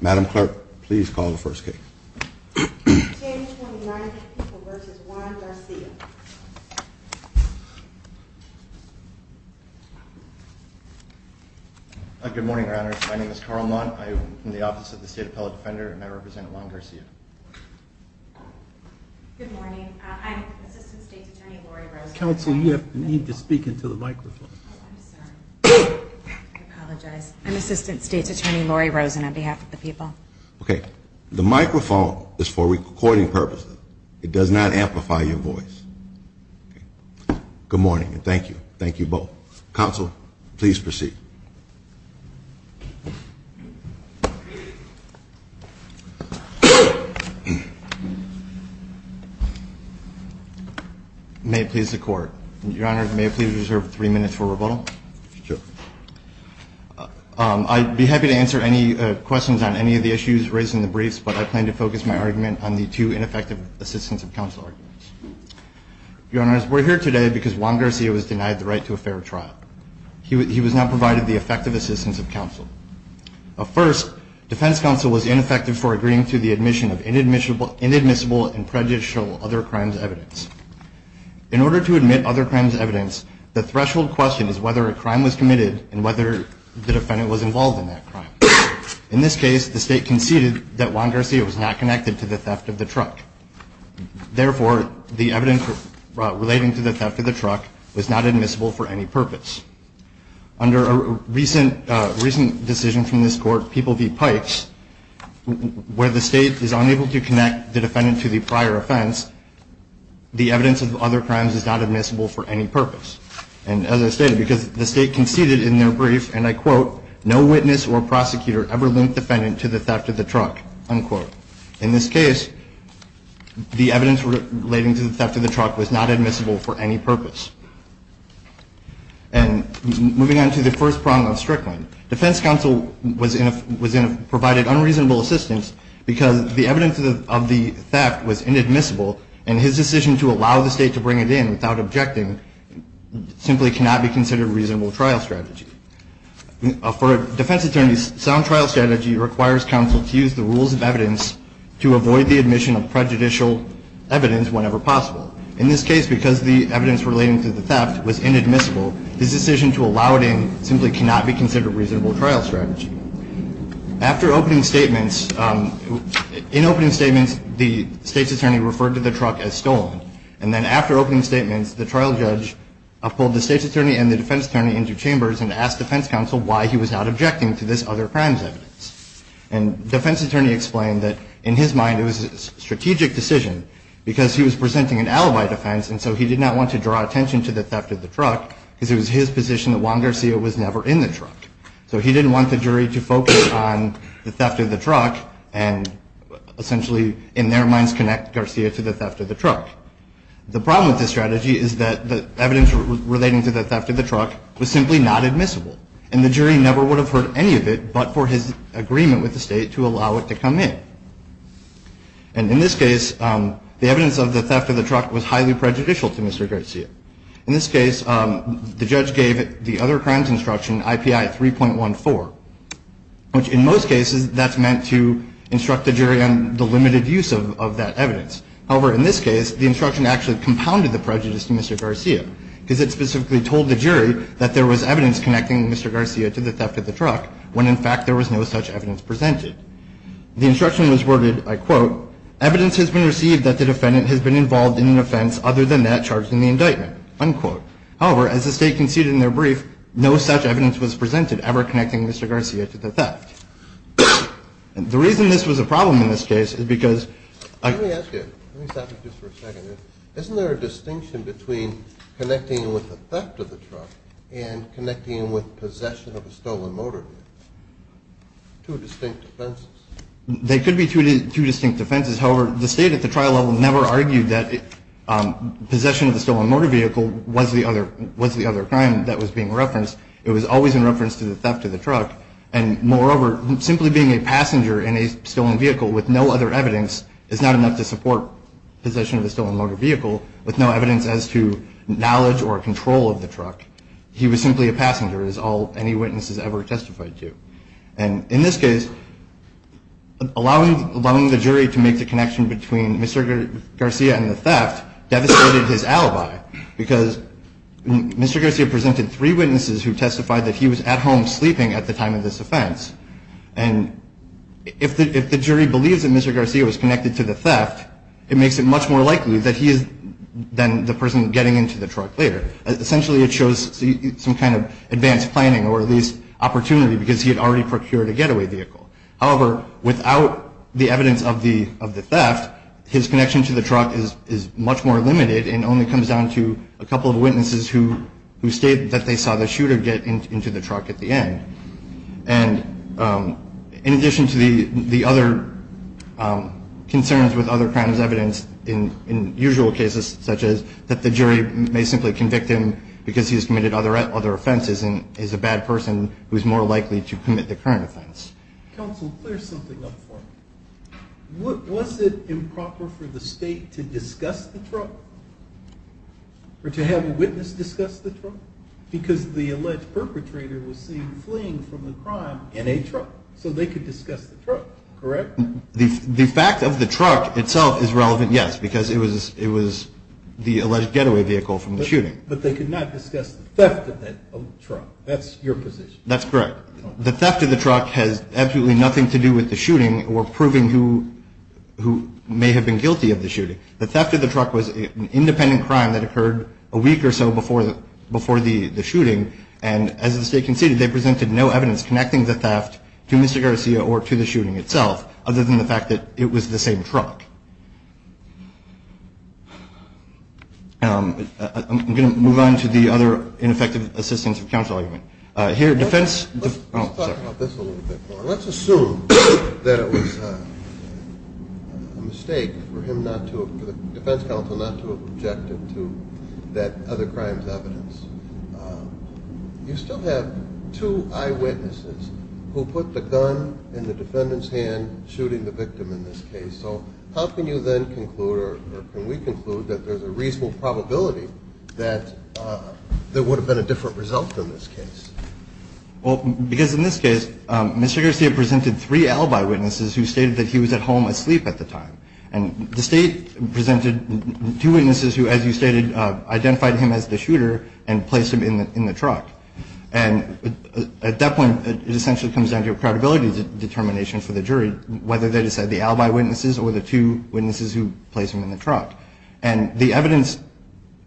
Madam Clerk, please call the first case. Good morning, Your Honors. My name is Carl Mott. I'm from the Office of the State Appellate Defender and I represent Juan Garcia. Good morning. I'm Assistant State's Attorney Lori Rosen. Counsel, you need to speak into the microphone. I'm sorry. I apologize. I'm Assistant State's Attorney Lori Rosen on behalf of the people. Okay. The microphone is for recording purposes. It does not amplify your voice. Good morning and thank you. Thank you both. Counsel, please proceed. May it please the Court. Your Honor, may I please reserve three minutes for rebuttal? Sure. I'd be happy to answer any questions on any of the issues raised in the briefs, but I plan to focus my argument on the two ineffective assistance of counsel arguments. Your Honors, we're here today because Juan Garcia was denied the right to a fair trial. He was not provided the effective assistance of counsel. First, defense counsel was ineffective for agreeing to the admission of inadmissible and prejudicial other crimes evidence. In order to admit other crimes evidence, the threshold question is whether a crime was committed and whether the defendant was involved in that crime. In this case, the State conceded that Juan Garcia was not connected to the theft of the truck. Therefore, the evidence relating to the theft of the truck was not admissible for any purpose. Under a recent decision from this Court, People v. Pikes, where the State is unable to connect the defendant to the prior offense, the evidence of other crimes is not admissible for any purpose. And as I stated, because the State conceded in their brief, and I quote, no witness or prosecutor ever linked defendant to the theft of the truck, unquote. In this case, the evidence relating to the theft of the truck was not admissible for any purpose. And moving on to the first prong of Strickland. Defense counsel was provided unreasonable assistance because the evidence of the theft was inadmissible, and his decision to allow the State to bring it in without objecting simply cannot be considered reasonable trial strategy. For a defense attorney, sound trial strategy requires counsel to use the rules of evidence to avoid the admission of prejudicial evidence whenever possible. In this case, because the evidence relating to the theft was inadmissible, his decision to allow it in simply cannot be considered reasonable trial strategy. After opening statements, in opening statements, the State's attorney referred to the truck as stolen. And then after opening statements, the trial judge pulled the State's attorney and the defense attorney into chambers and asked defense counsel why he was not objecting to this other crimes evidence. And defense attorney explained that in his mind it was a strategic decision because he was presenting an alibi defense, and so he did not want to draw attention to the theft of the truck because it was his position that Juan Garcia was never in the truck. So he didn't want the jury to focus on the theft of the truck and essentially in their minds connect Garcia to the theft of the truck. The problem with this strategy is that the evidence relating to the theft of the truck was simply not admissible, and the jury never would have heard any of it but for his agreement with the State to allow it to come in. And in this case, the evidence of the theft of the truck was highly prejudicial to Mr. Garcia. In this case, the judge gave the other crimes instruction IPI 3.14, which in most cases that's meant to instruct the jury on the limited use of that evidence. However, in this case, the instruction actually compounded the prejudice to Mr. Garcia because it specifically told the jury that there was evidence connecting Mr. Garcia to the theft of the truck when in fact there was no such evidence presented. The instruction was worded, I quote, evidence has been received that the defendant has been involved in an offense other than that charged in the indictment, unquote. However, as the State conceded in their brief, no such evidence was presented ever connecting Mr. Garcia to the theft. And the reason this was a problem in this case is because... Let me ask you, let me stop you just for a second. Isn't there a distinction between connecting with the theft of the truck and connecting with possession of a stolen motor vehicle? Two distinct offenses. They could be two distinct offenses. However, the State at the trial level never argued that possession of a stolen motor vehicle was the other crime that was being referenced. It was always in reference to the theft of the truck. And moreover, simply being a passenger in a stolen vehicle with no other evidence is not enough to support possession of a stolen motor vehicle with no evidence as to knowledge or control of the truck. He was simply a passenger, as all any witnesses ever testified to. And in this case, allowing the jury to make the connection between Mr. Garcia and the theft devastated his alibi because Mr. Garcia presented three witnesses who testified that he was at home sleeping at the time of this offense. And if the jury believes that Mr. Garcia was connected to the theft, it makes it much more likely that he is then the person getting into the truck later. Essentially, it shows some kind of advanced planning or at least opportunity because he had already procured a getaway vehicle. However, without the evidence of the theft, his connection to the truck is much more limited and only comes down to a couple of witnesses who state that they saw the shooter get into the truck at the end. And in addition to the other concerns with other crimes evidenced in usual cases, such as that the jury may simply convict him because he has committed other offenses and is a bad person who is more likely to commit the current offense. Counsel, clear something up for me. Was it improper for the state to discuss the truck or to have a witness discuss the truck? Because the alleged perpetrator was seen fleeing from the crime in a truck, so they could discuss the truck, correct? The fact of the truck itself is relevant, yes, because it was the alleged getaway vehicle from the shooting. But they could not discuss the theft of the truck. That's your position. That's correct. The theft of the truck has absolutely nothing to do with the shooting or proving who may have been guilty of the shooting. The theft of the truck was an independent crime that occurred a week or so before the shooting, and as the state conceded, they presented no evidence connecting the theft to Mr. Garcia or to the shooting itself other than the fact that it was the same truck. I'm going to move on to the other ineffective assistance for counsel argument. Here, defense. Let's talk about this a little bit more. Let's assume that it was a mistake for the defense counsel not to have objected to that other crime's evidence. You still have two eyewitnesses who put the gun in the defendant's hand shooting the victim in this case. So how can you then conclude, or can we conclude, that there's a reasonable probability that there would have been a different result in this case? Well, because in this case, Mr. Garcia presented three alibi witnesses who stated that he was at home asleep at the time. And the state presented two witnesses who, as you stated, identified him as the shooter and placed him in the truck. And at that point, it essentially comes down to a credibility determination for the jury, whether they decide the alibi witnesses or the two witnesses who placed him in the truck. And the evidence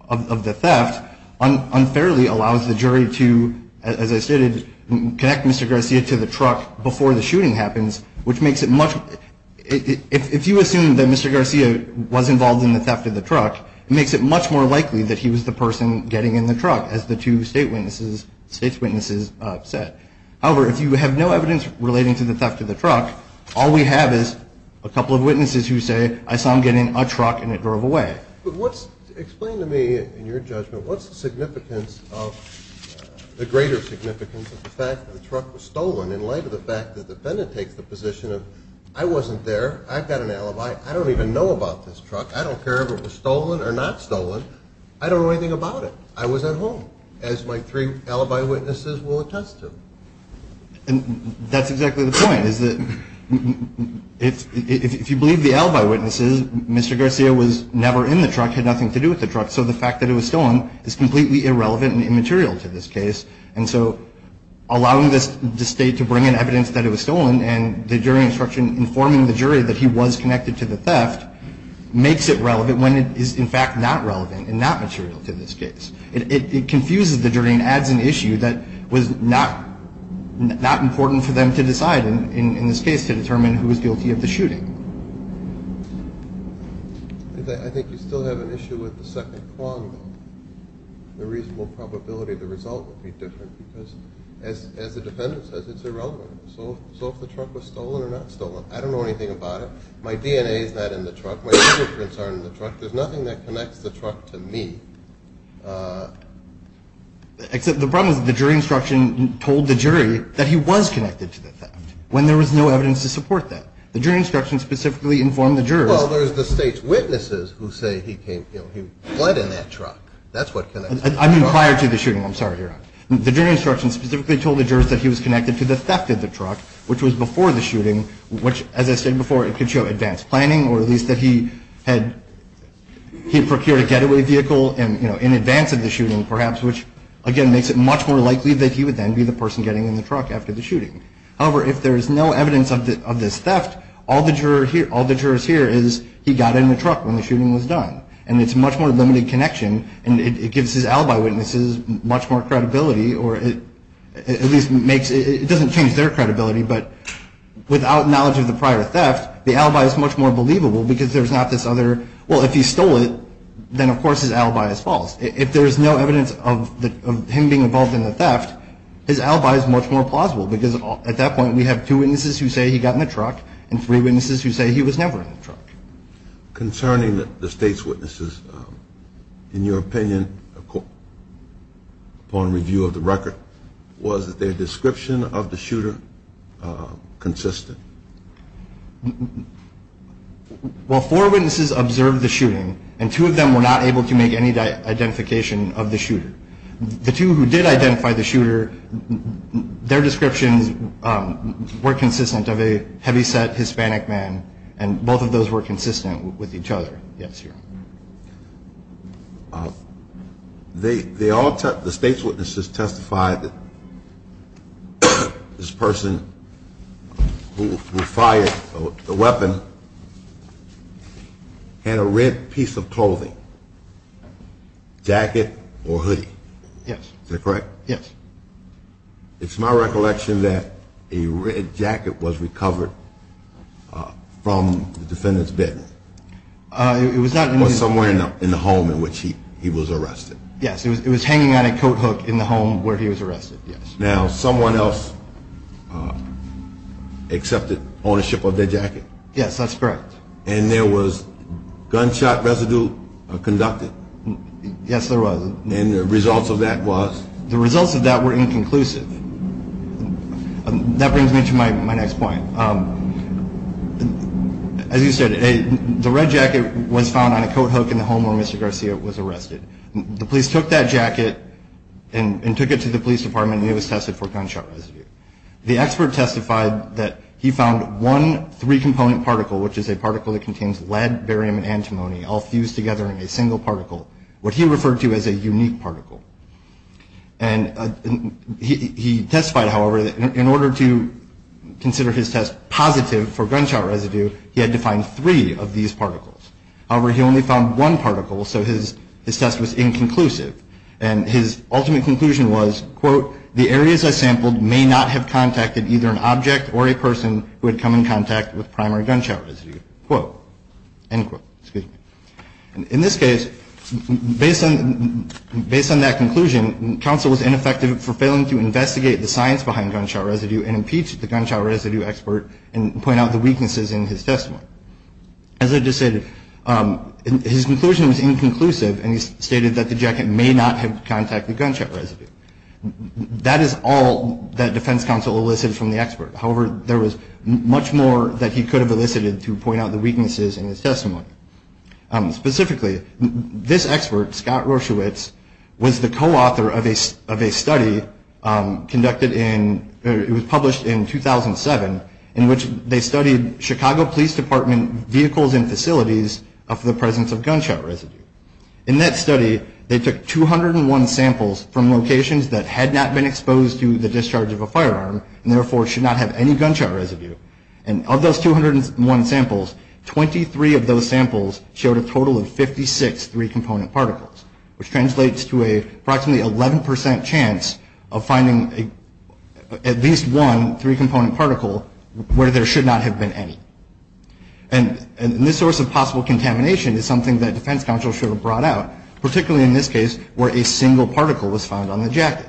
of the theft unfairly allows the jury to, as I stated, connect Mr. Garcia to the truck before the shooting happens, which makes it much – if you assume that Mr. Garcia was involved in the theft of the truck, it makes it much more likely that he was the person getting in the truck, as the two state witnesses – state's witnesses said. However, if you have no evidence relating to the theft of the truck, all we have is a couple of witnesses who say, I saw him get in a truck and it drove away. But what's – explain to me, in your judgment, what's the significance of – the greater significance of the fact that the truck was stolen in light of the fact that the defendant takes the position of, I wasn't there, I've got an alibi, I don't even know about this truck, I don't care if it was stolen or not stolen, I don't know anything about it. I was at home, as my three alibi witnesses will attest to. And that's exactly the point, is that if you believe the alibi witnesses, Mr. Garcia was never in the truck, had nothing to do with the truck, so the fact that it was stolen is completely irrelevant and immaterial to this case. And so allowing the state to bring in evidence that it was stolen and the jury instruction informing the jury that he was connected to the theft makes it relevant when it is, in fact, not relevant and not material to this case. It confuses the jury and adds an issue that was not important for them to decide, in this case, to determine who was guilty of the shooting. I think you still have an issue with the second prong, though. The reasonable probability of the result would be different because, as the defendant says, it's irrelevant. So if the truck was stolen or not stolen, I don't know anything about it. My DNA is not in the truck. My fingerprints aren't in the truck. There's nothing that connects the truck to me. Except the problem is the jury instruction told the jury that he was connected to the theft when there was no evidence to support that. The jury instruction specifically informed the jurors. Well, there's the state's witnesses who say he fled in that truck. That's what connects the truck. I mean prior to the shooting. I'm sorry, Your Honor. The jury instruction specifically told the jurors that he was connected to the theft in the truck, which was before the shooting, which, as I said before, it could show advanced planning or at least that he had procured a getaway vehicle in advance of the shooting, perhaps, which, again, makes it much more likely that he would then be the person getting in the truck after the shooting. However, if there is no evidence of this theft, all the jurors hear is he got in the truck when the shooting was done. And it's a much more limited connection, and it gives his alibi witnesses much more credibility or at least it doesn't change their credibility, but without knowledge of the prior theft, the alibi is much more believable because there's not this other. Well, if he stole it, then, of course, his alibi is false. If there is no evidence of him being involved in the theft, his alibi is much more plausible because at that point we have two witnesses who say he got in the truck Concerning the state's witnesses, in your opinion, upon review of the record, was their description of the shooter consistent? Well, four witnesses observed the shooting, and two of them were not able to make any identification of the shooter. The two who did identify the shooter, their descriptions were consistent of a heavyset Hispanic man, and both of those were consistent with each other. The state's witnesses testified that this person who fired the weapon had a red piece of clothing, jacket or hoodie. Yes. Is that correct? Yes. It's my recollection that a red jacket was recovered from the defendant's bed. It was not in his bed. Or somewhere in the home in which he was arrested. Yes, it was hanging on a coat hook in the home where he was arrested, yes. Now, someone else accepted ownership of their jacket? Yes, that's correct. And there was gunshot residue conducted? Yes, there was. And the results of that was? The results of that were inconclusive. That brings me to my next point. As you said, the red jacket was found on a coat hook in the home where Mr. Garcia was arrested. The police took that jacket and took it to the police department, and it was tested for gunshot residue. The expert testified that he found one three-component particle, which is a particle that contains lead, barium, and antimony all fused together in a single particle, what he referred to as a unique particle. And he testified, however, that in order to consider his test positive for gunshot residue, he had to find three of these particles. However, he only found one particle, so his test was inconclusive. And his ultimate conclusion was, quote, the areas I sampled may not have contacted either an object or a person who had come in contact with primary gunshot residue. Quote. End quote. In this case, based on that conclusion, counsel was ineffective for failing to investigate the science behind gunshot residue and impeach the gunshot residue expert and point out the weaknesses in his testimony. As I just said, his conclusion was inconclusive, and he stated that the jacket may not have contacted gunshot residue. That is all that defense counsel elicited from the expert. However, there was much more that he could have elicited to point out the weaknesses in his testimony. Specifically, this expert, Scott Rorschewitz, was the co-author of a study conducted in, it was published in 2007, in which they studied Chicago Police Department vehicles and facilities of the presence of gunshot residue. In that study, they took 201 samples from locations that had not been exposed to the discharge of a firearm and therefore should not have any gunshot residue. And of those 201 samples, 23 of those samples showed a total of 56 three-component particles, which translates to approximately an 11 percent chance of finding at least one three-component particle where there should not have been any. And this source of possible contamination is something that defense counsel should have brought out, particularly in this case where a single particle was found on the jacket.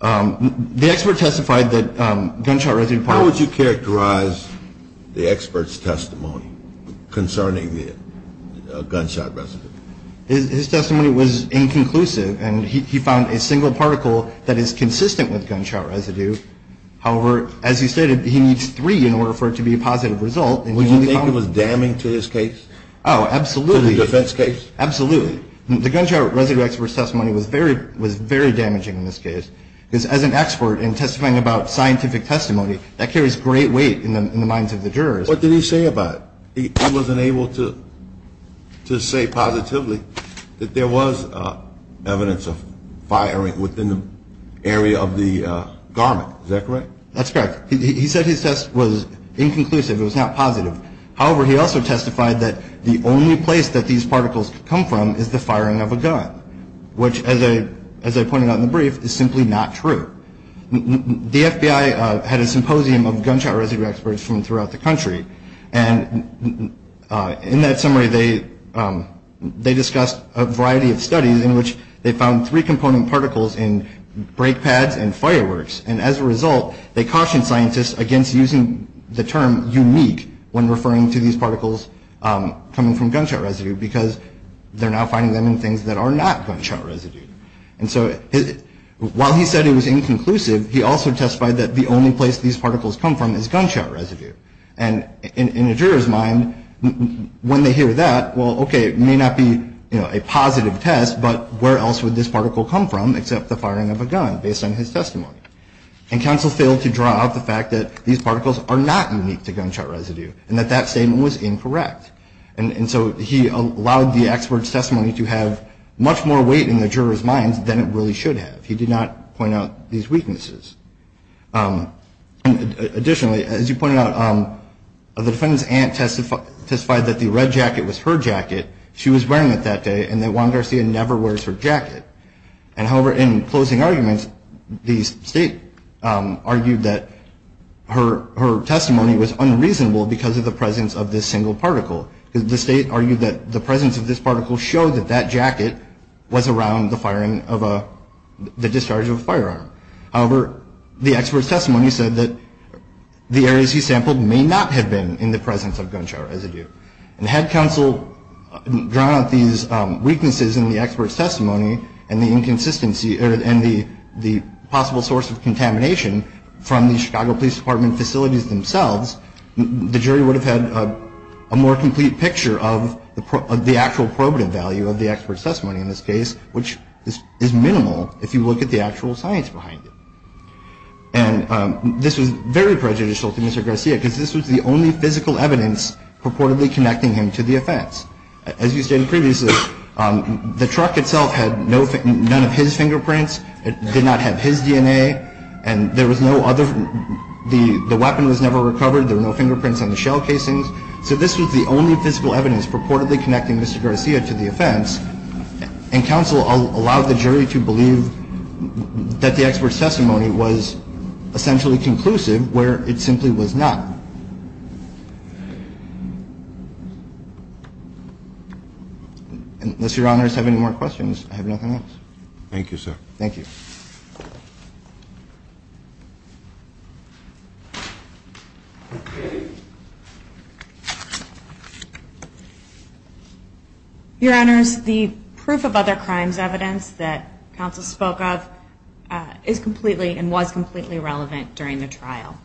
The expert testified that gunshot residue particles. How would you characterize the expert's testimony concerning the gunshot residue? His testimony was inconclusive, and he found a single particle that is consistent with gunshot residue. However, as he stated, he needs three in order for it to be a positive result. Would you think it was damning to his case? Oh, absolutely. To the defense case? Absolutely. The gunshot residue expert's testimony was very damaging in this case because as an expert in testifying about scientific testimony, that carries great weight in the minds of the jurors. What did he say about it? He wasn't able to say positively that there was evidence of firing within the area of the garment. Is that correct? That's correct. He said his test was inconclusive. It was not positive. However, he also testified that the only place that these particles come from is the firing of a gun, which, as I pointed out in the brief, is simply not true. The FBI had a symposium of gunshot residue experts from throughout the country, and in that summary, they discussed a variety of studies in which they found three-component particles in brake pads and fireworks, and as a result, they cautioned scientists against using the term unique when referring to these particles coming from gunshot residue because they're now finding them in things that are not gunshot residue. And so while he said it was inconclusive, he also testified that the only place these particles come from is gunshot residue. And in a juror's mind, when they hear that, well, okay, it may not be a positive test, but where else would this particle come from except the firing of a gun, based on his testimony? And counsel failed to draw out the fact that these particles are not unique to gunshot residue and that that statement was incorrect. And so he allowed the expert's testimony to have much more weight in the juror's minds than it really should have. He did not point out these weaknesses. Additionally, as you pointed out, the defendant's aunt testified that the red jacket was her jacket. She was wearing it that day and that Juan Garcia never wears her jacket. And however, in closing arguments, the state argued that her testimony was unreasonable because of the presence of this single particle. The state argued that the presence of this particle showed that that jacket was around the firing of a – the discharge of a firearm. However, the expert's testimony said that the areas he sampled may not have been in the presence of gunshot residue. And had counsel drawn out these weaknesses in the expert's testimony and the inconsistency – and the possible source of contamination from the Chicago Police Department facilities themselves, the jury would have had a more complete picture of the actual probative value of the expert's testimony in this case, which is minimal if you look at the actual science behind it. And this was very prejudicial to Mr. Garcia because this was the only physical evidence purportedly connecting him to the offense. As you stated previously, the truck itself had no – none of his fingerprints. It did not have his DNA. And there was no other – the weapon was never recovered. There were no fingerprints on the shell casings. So this was the only physical evidence purportedly connecting Mr. Garcia to the offense. And counsel allowed the jury to believe that the expert's testimony was essentially conclusive, where it simply was not. Unless Your Honors have any more questions, I have nothing else. Thank you, sir. Thank you. Your Honors, the proof of other crimes evidence that counsel spoke of is completely and was completely relevant during the trial.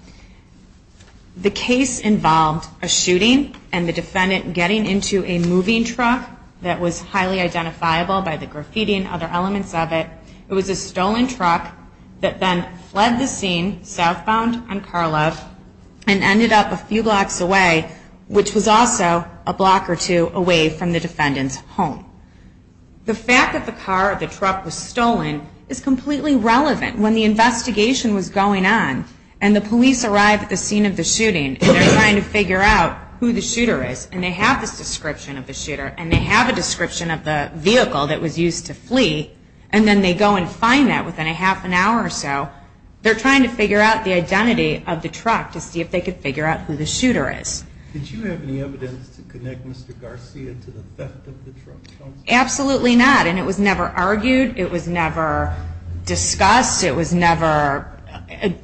The case involved a shooting and the defendant getting into a moving truck that was highly identifiable by the graffiti and other elements of it. It was a stolen truck that the defendant was driving. The suspect then fled the scene southbound on Carlisle and ended up a few blocks away, which was also a block or two away from the defendant's home. The fact that the car or the truck was stolen is completely relevant. When the investigation was going on and the police arrived at the scene of the shooting and they're trying to figure out who the shooter is and they have this description of the shooter and they have a description of the vehicle that was used to flee and then they go and find that within a half an hour or so, they're trying to figure out the identity of the truck to see if they could figure out who the shooter is. Did you have any evidence to connect Mr. Garcia to the theft of the truck, counsel? Absolutely not. And it was never argued. It was never discussed. It was never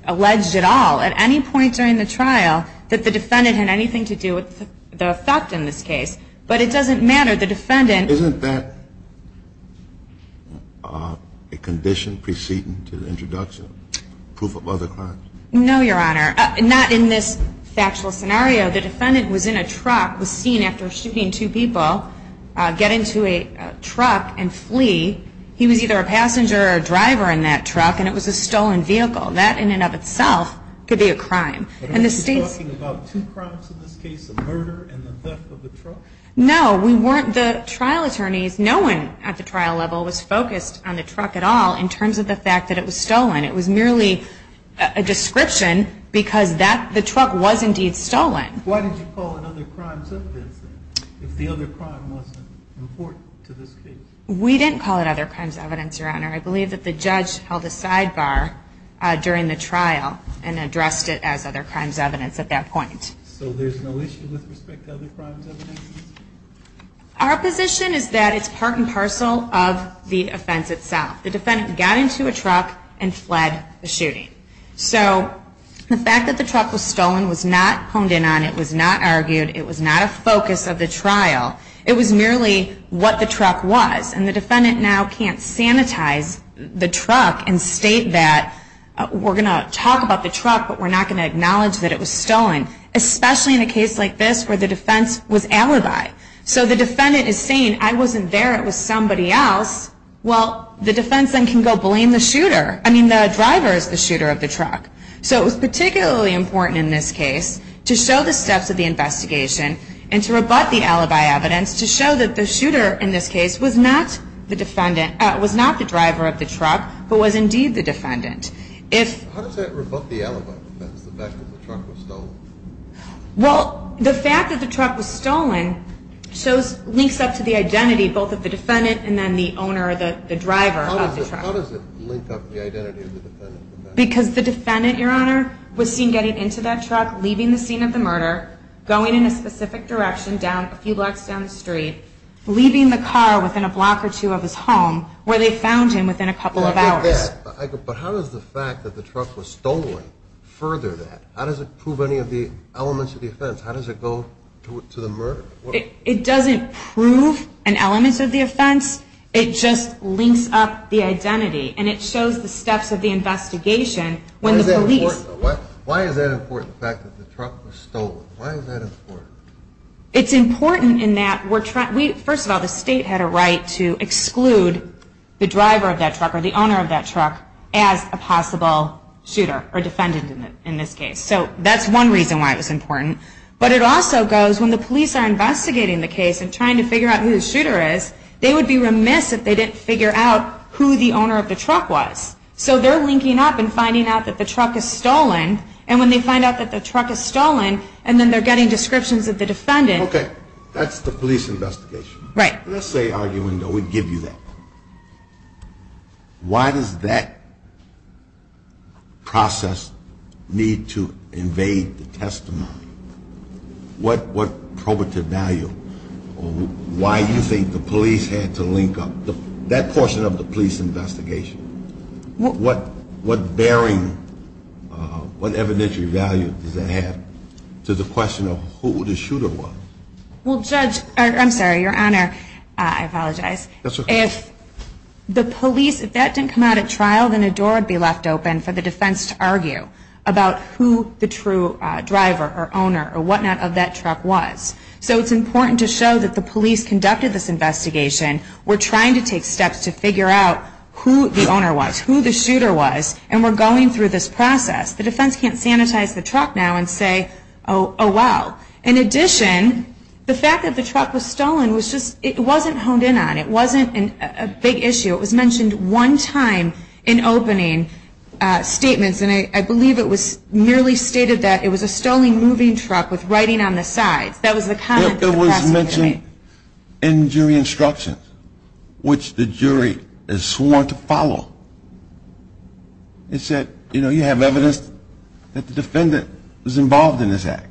alleged at all at any point during the trial that the defendant had anything to do with the theft in this case. But it doesn't matter. Isn't that a condition preceding to the introduction, proof of other crimes? No, Your Honor. Not in this factual scenario. The defendant was in a truck, was seen after shooting two people get into a truck and flee. He was either a passenger or a driver in that truck and it was a stolen vehicle. That in and of itself could be a crime. Are you talking about two crimes in this case, a murder and the theft of the truck? No, we weren't the trial attorneys. No one at the trial level was focused on the truck at all in terms of the fact that it was stolen. It was merely a description because the truck was indeed stolen. Why did you call it other crimes evidence if the other crime wasn't important to this case? We didn't call it other crimes evidence, Your Honor. I believe that the judge held a sidebar during the trial and addressed it as other crimes evidence at that point. So there's no issue with respect to other crimes evidence? Our position is that it's part and parcel of the offense itself. The defendant got into a truck and fled the shooting. So the fact that the truck was stolen was not honed in on. It was not argued. It was not a focus of the trial. It was merely what the truck was. And the defendant now can't sanitize the truck and state that we're going to talk about the truck, but we're not going to acknowledge that it was stolen, especially in a case like this where the defense was alibi. So the defendant is saying, I wasn't there, it was somebody else. Well, the defense then can go blame the shooter. I mean, the driver is the shooter of the truck. So it was particularly important in this case to show the steps of the investigation and to rebut the alibi evidence to show that the shooter in this case was not the driver of the truck, but was indeed the defendant. How does that rebut the alibi evidence, the fact that the truck was stolen? Well, the fact that the truck was stolen links up to the identity both of the defendant and then the owner or the driver of the truck. How does it link up the identity of the defendant? Because the defendant, Your Honor, was seen getting into that truck, leaving the scene of the murder, going in a specific direction a few blocks down the street, leaving the car within a block or two of his home where they found him within a couple of hours. I get that, but how does the fact that the truck was stolen further that? How does it prove any of the elements of the offense? How does it go to the murder? It doesn't prove an element of the offense. It just links up the identity, and it shows the steps of the investigation when the police... Why is that important, the fact that the truck was stolen? Why is that important? It's important in that we're trying... the owner of that truck as a possible shooter or defendant in this case. So that's one reason why it was important. But it also goes when the police are investigating the case and trying to figure out who the shooter is, they would be remiss if they didn't figure out who the owner of the truck was. So they're linking up and finding out that the truck is stolen, and when they find out that the truck is stolen and then they're getting descriptions of the defendant... Okay, that's the police investigation. Right. Let's say, arguing, though, we give you that. Why does that process need to invade the testimony? What probative value or why do you think the police had to link up that portion of the police investigation? What bearing, what evidentiary value does that have to the question of who the shooter was? Well, Judge, I'm sorry, Your Honor, I apologize. That's okay. If the police, if that didn't come out at trial, then a door would be left open for the defense to argue about who the true driver or owner or whatnot of that truck was. So it's important to show that the police conducted this investigation. We're trying to take steps to figure out who the owner was, who the shooter was, and we're going through this process. The defense can't sanitize the truck now and say, oh, wow. In addition, the fact that the truck was stolen was just, it wasn't honed in on. It wasn't a big issue. It was mentioned one time in opening statements, and I believe it was merely stated that it was a stolen moving truck with writing on the sides. That was the comment that the prosecutor made. It was mentioned in jury instructions, which the jury is sworn to follow. It said, you know, you have evidence that the defendant was involved in this act.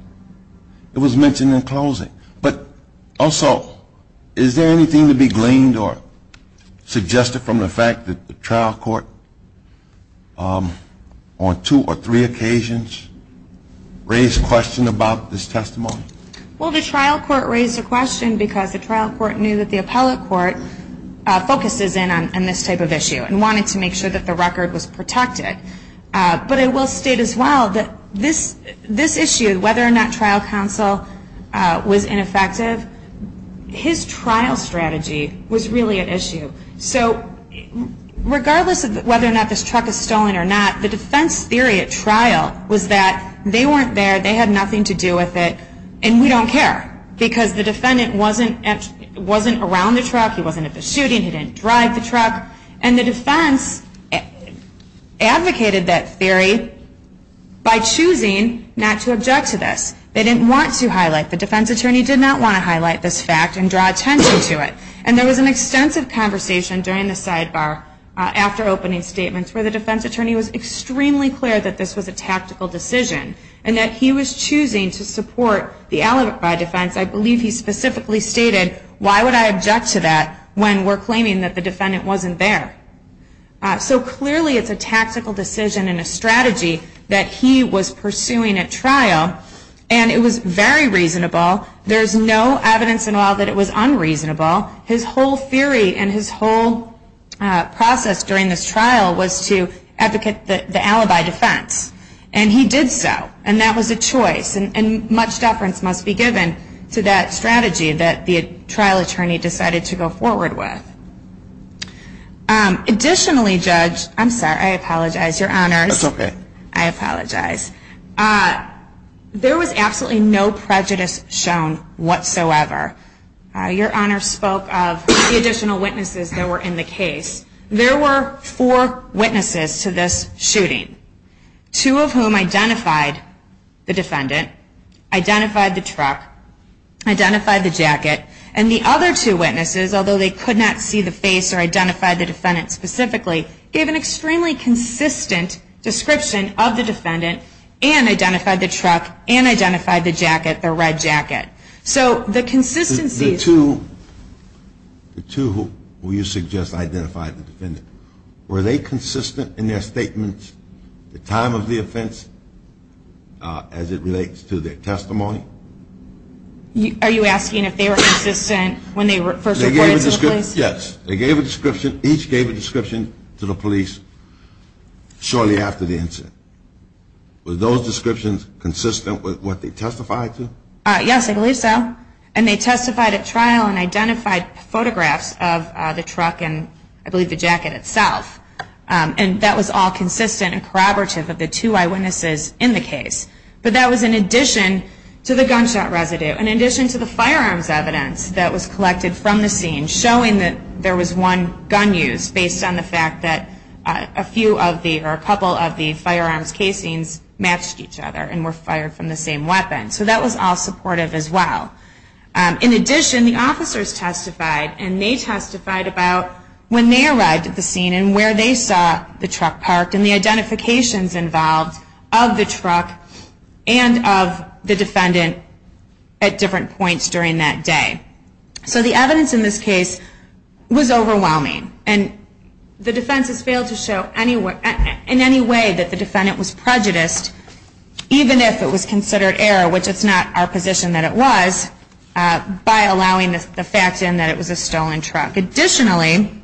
It was mentioned in closing. But also, is there anything to be gleaned or suggested from the fact that the trial court, on two or three occasions, raised questions about this testimony? Well, the trial court raised a question because the trial court knew that the appellate court focuses in on this type of issue and wanted to make sure that the record was protected. But I will state as well that this issue, whether or not trial counsel was ineffective, his trial strategy was really at issue. So regardless of whether or not this truck is stolen or not, the defense theory at trial was that they weren't there, they had nothing to do with it, and we don't care because the defendant wasn't around the truck, he wasn't at the shooting, he didn't drive the truck, and the defense advocated that theory by choosing not to object to this. They didn't want to highlight it. The defense attorney did not want to highlight this fact and draw attention to it. And there was an extensive conversation during the sidebar after opening statements where the defense attorney was extremely clear that this was a tactical decision and that he was choosing to support the alibi defense. I believe he specifically stated, why would I object to that when we're claiming that the defendant wasn't there? So clearly it's a tactical decision and a strategy that he was pursuing at trial, and it was very reasonable. There's no evidence at all that it was unreasonable. His whole theory and his whole process during this trial was to advocate the alibi defense. And he did so, and that was a choice, and much deference must be given to that strategy that the trial attorney decided to go forward with. Additionally, Judge, I'm sorry, I apologize, Your Honors. That's okay. I apologize. There was absolutely no prejudice shown whatsoever. Your Honors spoke of the additional witnesses that were in the case. There were four witnesses to this shooting, two of whom identified the defendant, identified the truck, identified the jacket, and the other two witnesses, although they could not see the face or identify the defendant specifically, gave an extremely consistent description of the defendant and identified the truck and identified the jacket, the red jacket. The two who you suggest identified the defendant, were they consistent in their statements, the time of the offense, as it relates to their testimony? Are you asking if they were consistent when they first reported to the police? Yes. They gave a description. Each gave a description to the police shortly after the incident. Were those descriptions consistent with what they testified to? Yes, I believe so. And they testified at trial and identified photographs of the truck and I believe the jacket itself. And that was all consistent and corroborative of the two eyewitnesses in the case. But that was in addition to the gunshot residue, in addition to the firearms evidence that was collected from the scene, showing that there was one gun use based on the fact that a few of the or a couple of the firearms casings matched each other and were fired from the same weapon. So that was all supportive as well. In addition, the officers testified and they testified about when they arrived at the scene and where they saw the truck parked and the identifications involved of the truck and of the defendant at different points during that day. So the evidence in this case was overwhelming and the defense has failed to show in any way that the defendant was prejudiced, even if it was considered error, which it's not our position that it was, by allowing the fact in that it was a stolen truck. Additionally,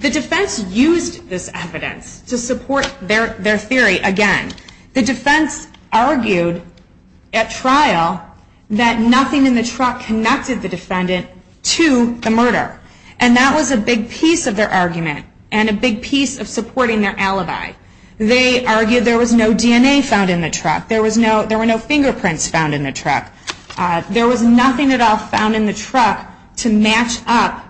the defense used this evidence to support their theory. Again, the defense argued at trial that nothing in the truck connected the defendant to the murder. And that was a big piece of their argument and a big piece of supporting their alibi. They argued there was no DNA found in the truck. There were no fingerprints found in the truck. There was nothing at all found in the truck to match up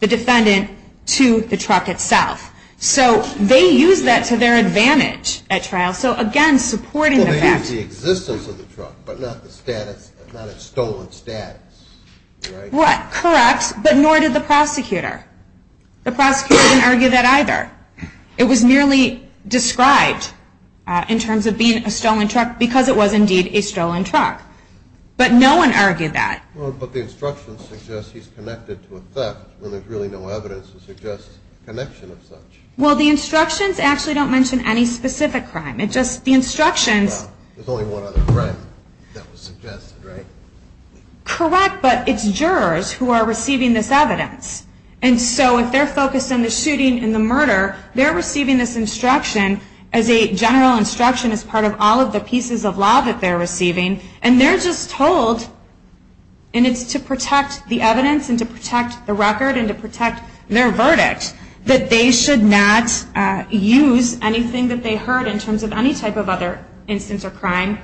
the defendant to the truck itself. So they used that to their advantage at trial. So again, supporting the fact... Well, they used the existence of the truck, but not the status, not its stolen status. Correct, but nor did the prosecutor. The prosecutor didn't argue that either. It was merely described in terms of being a stolen truck because it was indeed a stolen truck. But no one argued that. But the instructions suggest he's connected to a theft when there's really no evidence to suggest connection of such. Well, the instructions actually don't mention any specific crime. It's just the instructions... Well, there's only one other threat that was suggested, right? Correct, but it's jurors who are receiving this evidence. And so if they're focused on the shooting and the murder, they're receiving this instruction as a general instruction as part of all of the pieces of law that they're receiving. And they're just told, and it's to protect the evidence and to protect the record and to protect their verdict, that they should not use anything that they heard in terms of any type of other instance or crime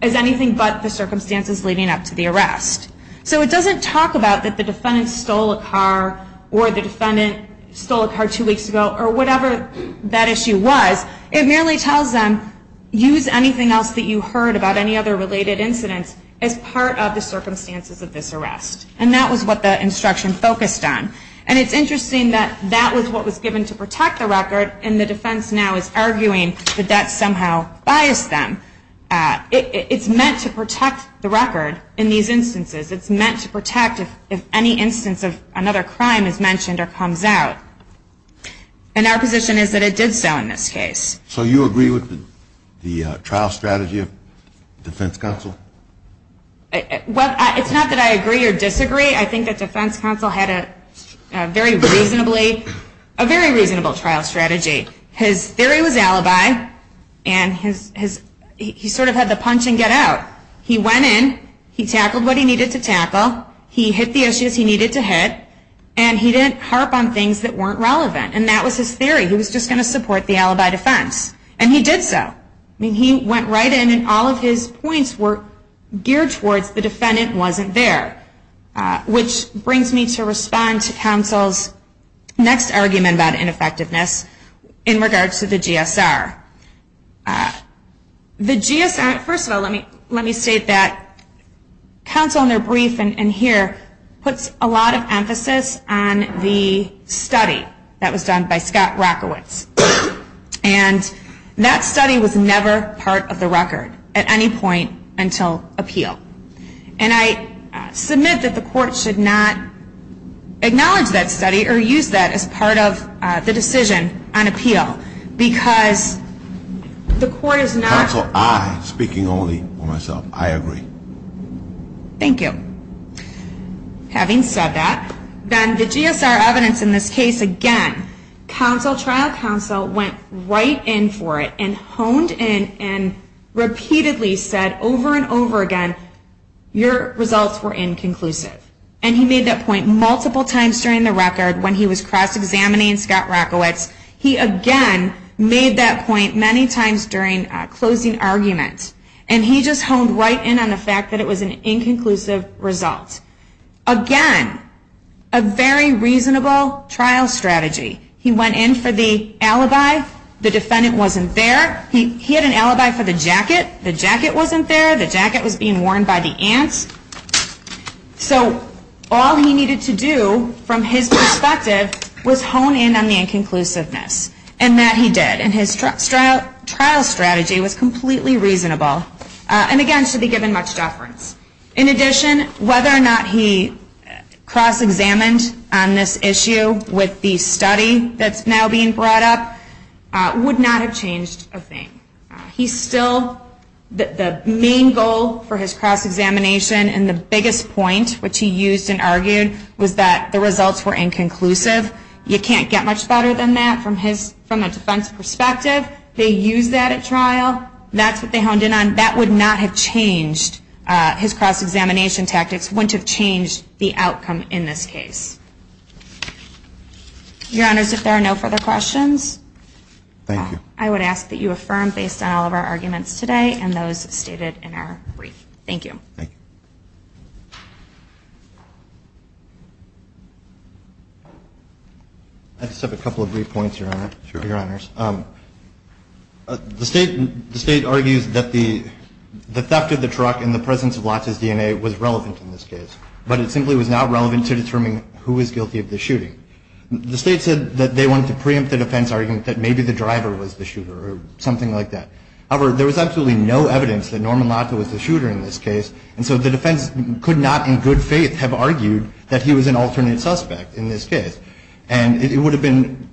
as anything but the circumstances leading up to the arrest. So it doesn't talk about that the defendant stole a car or the defendant stole a car two weeks ago or whatever that issue was. It merely tells them, use anything else that you heard about any other related incidents as part of the circumstances of this arrest. And that was what the instruction focused on. And it's interesting that that was what was given to protect the record, and the defense now is arguing that that somehow biased them. It's meant to protect the record in these instances. It's meant to protect if any instance of another crime is mentioned or comes out. And our position is that it did so in this case. So you agree with the trial strategy of defense counsel? Well, it's not that I agree or disagree. I think that defense counsel had a very reasonable trial strategy. His theory was alibi, and he sort of had the punch and get out. He went in, he tackled what he needed to tackle, he hit the issues he needed to hit, and he didn't harp on things that weren't relevant. And that was his theory. He was just going to support the alibi defense. And he did so. I mean, he went right in, and all of his points were geared towards the defendant wasn't there, which brings me to respond to counsel's next argument about ineffectiveness in regards to the GSR. The GSR, first of all, let me state that counsel in their brief in here puts a lot of emphasis on the study that was done by Scott Rockowitz. And that study was never part of the record at any point until appeal. And I submit that the court should not acknowledge that study or use that as part of the decision on appeal, because the court is not. Counsel, I, speaking only for myself, I agree. Thank you. Having said that, then the GSR evidence in this case, again, trial counsel went right in for it and honed in and repeatedly said over and over again, your results were inconclusive. And he made that point multiple times during the record when he was cross-examining Scott Rockowitz. He, again, made that point many times during closing arguments. And he just honed right in on the fact that it was an inconclusive result. Again, a very reasonable trial strategy. He went in for the alibi. The defendant wasn't there. He had an alibi for the jacket. The jacket wasn't there. The jacket was being worn by the aunt. So all he needed to do from his perspective was hone in on the inconclusiveness. And that he did. And his trial strategy was completely reasonable. And, again, should be given much deference. In addition, whether or not he cross-examined on this issue with the study that's now being brought up would not have changed a thing. He still, the main goal for his cross-examination and the biggest point, which he used and argued, was that the results were inconclusive. You can't get much better than that from a defense perspective. They used that at trial. That's what they honed in on. That would not have changed. His cross-examination tactics wouldn't have changed the outcome in this case. Your Honors, if there are no further questions, I would ask that you affirm based on all of our arguments today and those stated in our brief. Thank you. Thank you. I just have a couple of brief points, Your Honors. Sure. The State argues that the theft of the truck in the presence of Lotz's DNA was relevant in this case. But it simply was not relevant to determining who was guilty of the shooting. The State said that they wanted to preempt the defense argument that maybe the driver was the shooter or something like that. However, there was absolutely no evidence that Norman Lotz was the shooter in this case. And so the defense could not, in good faith, have argued that he was an alternate suspect in this case. And it would have been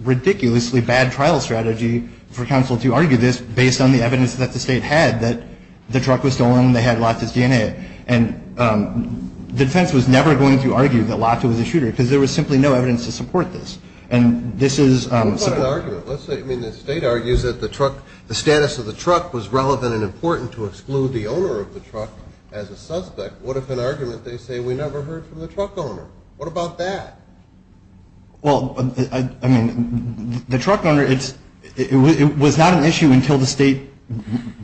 a ridiculously bad trial strategy for counsel to argue this based on the evidence that the State had that the truck was stolen and they had Lotz's DNA. And the defense was never going to argue that Lotz was the shooter because there was simply no evidence to support this. And this is – What about an argument? Let's say, I mean, the State argues that the status of the truck was relevant and important to exclude the owner of the truck as a suspect. What if in an argument they say we never heard from the truck owner? What about that? Well, I mean, the truck owner, it was not an issue until the State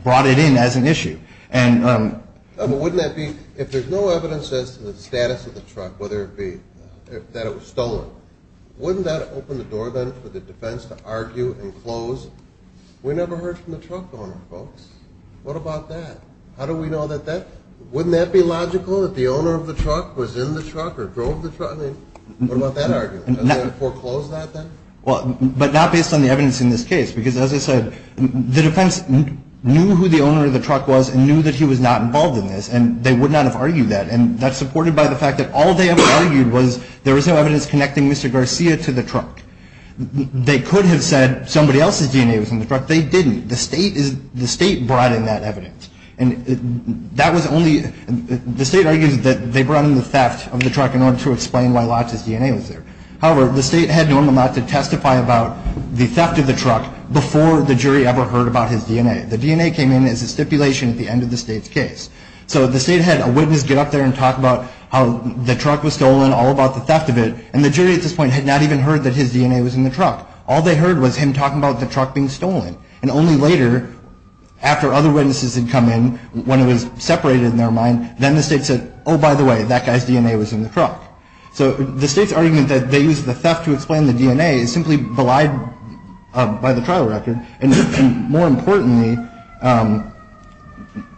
brought it in as an issue. But wouldn't that be – if there's no evidence as to the status of the truck, whether it be that it was stolen, wouldn't that open the door then for the defense to argue and close, we never heard from the truck owner, folks. What about that? How do we know that that – wouldn't that be logical that the owner of the truck was in the truck or drove the truck? I mean, what about that argument? Does it foreclose that then? Well, but not based on the evidence in this case because, as I said, the defense knew who the owner of the truck was and knew that he was not involved in this and they would not have argued that. And that's supported by the fact that all they ever argued was there was no evidence connecting Mr. Garcia to the truck. They could have said somebody else's DNA was in the truck. They didn't. The State brought in that evidence. And that was only – the State argues that they brought in the theft of the truck in order to explain why Lotz's DNA was there. However, the State had normal not to testify about the theft of the truck before the jury ever heard about his DNA. The DNA came in as a stipulation at the end of the State's case. So the State had a witness get up there and talk about how the truck was stolen, all about the theft of it, and the jury at this point had not even heard that his DNA was in the truck. All they heard was him talking about the truck being stolen. And only later, after other witnesses had come in, when it was separated in their mind, So the State's argument that they used the theft to explain the DNA is simply belied by the trial record. And more importantly,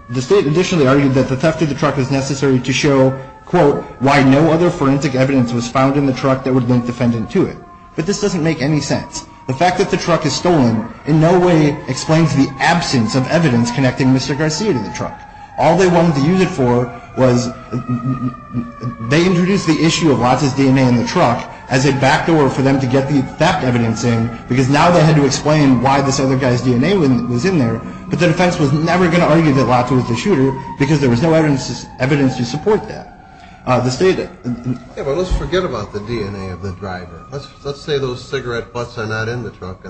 the State additionally argued that the theft of the truck is necessary to show, quote, why no other forensic evidence was found in the truck that would link the defendant to it. But this doesn't make any sense. The fact that the truck is stolen in no way explains the absence of evidence connecting Mr. Garcia to the truck. All they wanted to use it for was, they introduced the issue of Lotza's DNA in the truck as a backdoor for them to get the theft evidence in, because now they had to explain why this other guy's DNA was in there, but the defense was never going to argue that Lotza was the shooter because there was no evidence to support that. The State... Yeah, but let's forget about the DNA of the driver. Let's say those cigarette butts are not in the truck.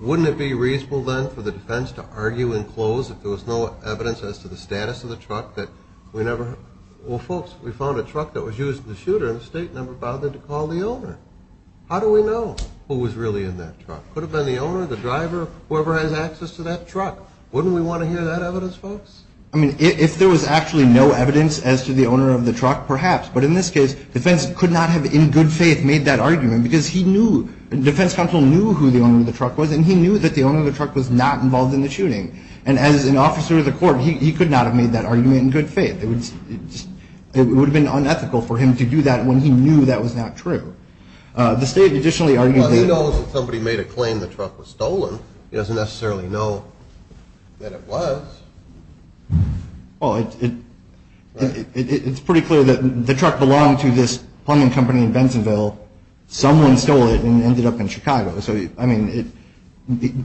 Wouldn't it be reasonable then for the defense to argue and close if there was no evidence as to the status of the truck that we never... Well, folks, we found a truck that was used as a shooter and the State never bothered to call the owner. How do we know who was really in that truck? Could have been the owner, the driver, whoever has access to that truck. Wouldn't we want to hear that evidence, folks? I mean, if there was actually no evidence as to the owner of the truck, perhaps. But in this case, defense could not have in good faith made that argument because he knew, defense counsel knew who the owner of the truck was and he knew that the owner of the truck was not involved in the shooting. And as an officer of the court, he could not have made that argument in good faith. It would have been unethical for him to do that when he knew that was not true. The State additionally argued that... Well, he knows that somebody made a claim the truck was stolen. He doesn't necessarily know that it was. Well, it's pretty clear that the truck belonged to this plumbing company in Bensonville. Someone stole it and ended up in Chicago. So, I mean,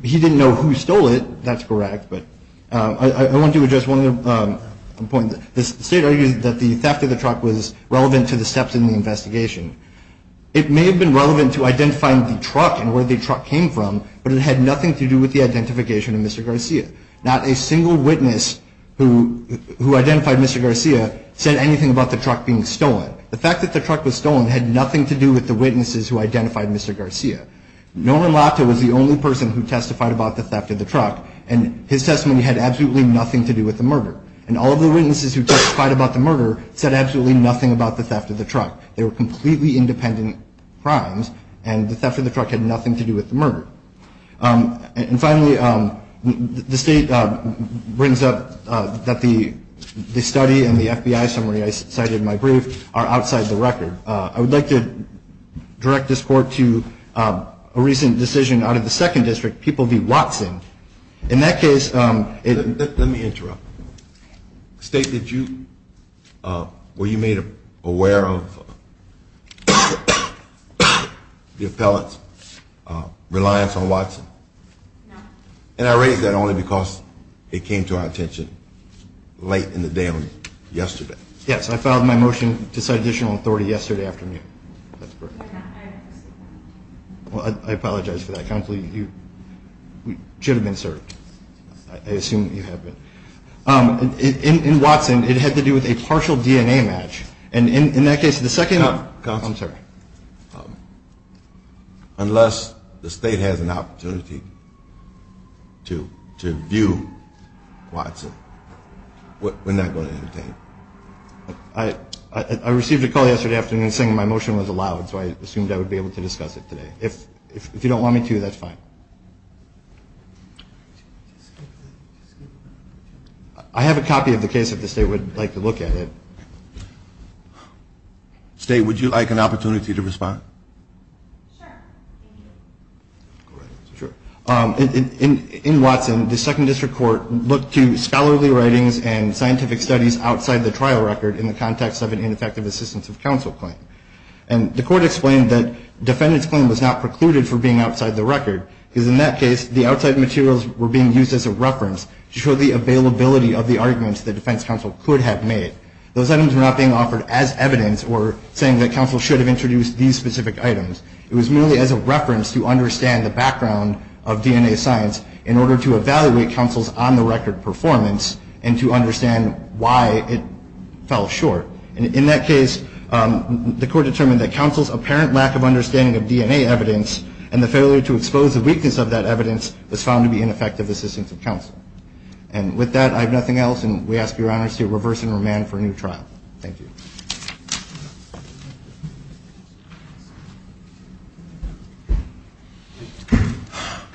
he didn't know who stole it. That's correct. But I want to address one other point. The State argued that the theft of the truck was relevant to the steps in the investigation. It may have been relevant to identifying the truck and where the truck came from, but it had nothing to do with the identification of Mr. Garcia. Not a single witness who identified Mr. Garcia said anything about the truck being stolen. The fact that the truck was stolen had nothing to do with the witnesses who identified Mr. Garcia. Norman Lahta was the only person who testified about the theft of the truck, and his testimony had absolutely nothing to do with the murder. And all of the witnesses who testified about the murder said absolutely nothing about the theft of the truck. They were completely independent crimes, and the theft of the truck had nothing to do with the murder. And finally, the State brings up that the study and the FBI summary I cited in my brief are outside the record. I would like to direct this Court to a recent decision out of the 2nd District, People v. Watson. In that case, it- Let me interrupt. State, did you- were you made aware of the appellate's reliance on Watson? No. And I raise that only because it came to our attention late in the day on- yesterday. Yes, I filed my motion to cite additional authority yesterday afternoon. That's correct. Well, I apologize for that. Counsel, you should have been served. I assume you have been. In Watson, it had to do with a partial DNA match. And in that case, the second- Counsel. I'm sorry. Unless the State has an opportunity to view Watson, we're not going to entertain it. I received a call yesterday afternoon saying my motion was allowed, so I assumed I would be able to discuss it today. If you don't want me to, that's fine. I have a copy of the case if the State would like to look at it. State, would you like an opportunity to respond? Sure. In Watson, the 2nd District Court looked to scholarly writings and scientific studies outside the trial record in the context of an ineffective assistance of counsel claim. And the court explained that defendant's claim was not precluded for being outside the record, because in that case, the outside materials were being used as a reference to show the availability of the arguments that defense counsel could have made. Those items were not being offered as evidence or saying that counsel should have introduced these specific items. It was merely as a reference to understand the background of DNA science in order to evaluate counsel's on-the-record performance and to understand why it fell short. In that case, the court determined that counsel's apparent lack of understanding of DNA evidence and the failure to expose the weakness of that evidence was found to be ineffective assistance of counsel. And with that, I have nothing else. And we ask Your Honor to reverse and remand for a new trial. Thank you.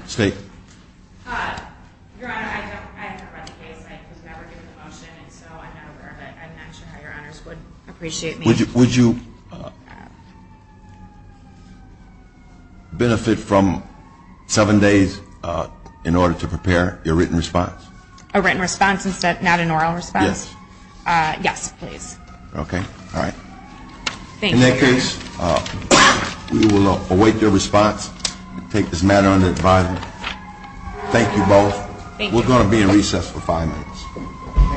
State. Your Honor, I haven't heard about the case. I was never given the motion, and so I'm not aware of it. I'm not sure how Your Honors would appreciate me. Would you benefit from seven days in order to prepare your written response? A written response instead of an oral response? Yes. Yes, please. Okay. All right. In that case, we will await your response. I take this matter under advisement. Thank you both. Thank you. We're going to be in recess for five minutes.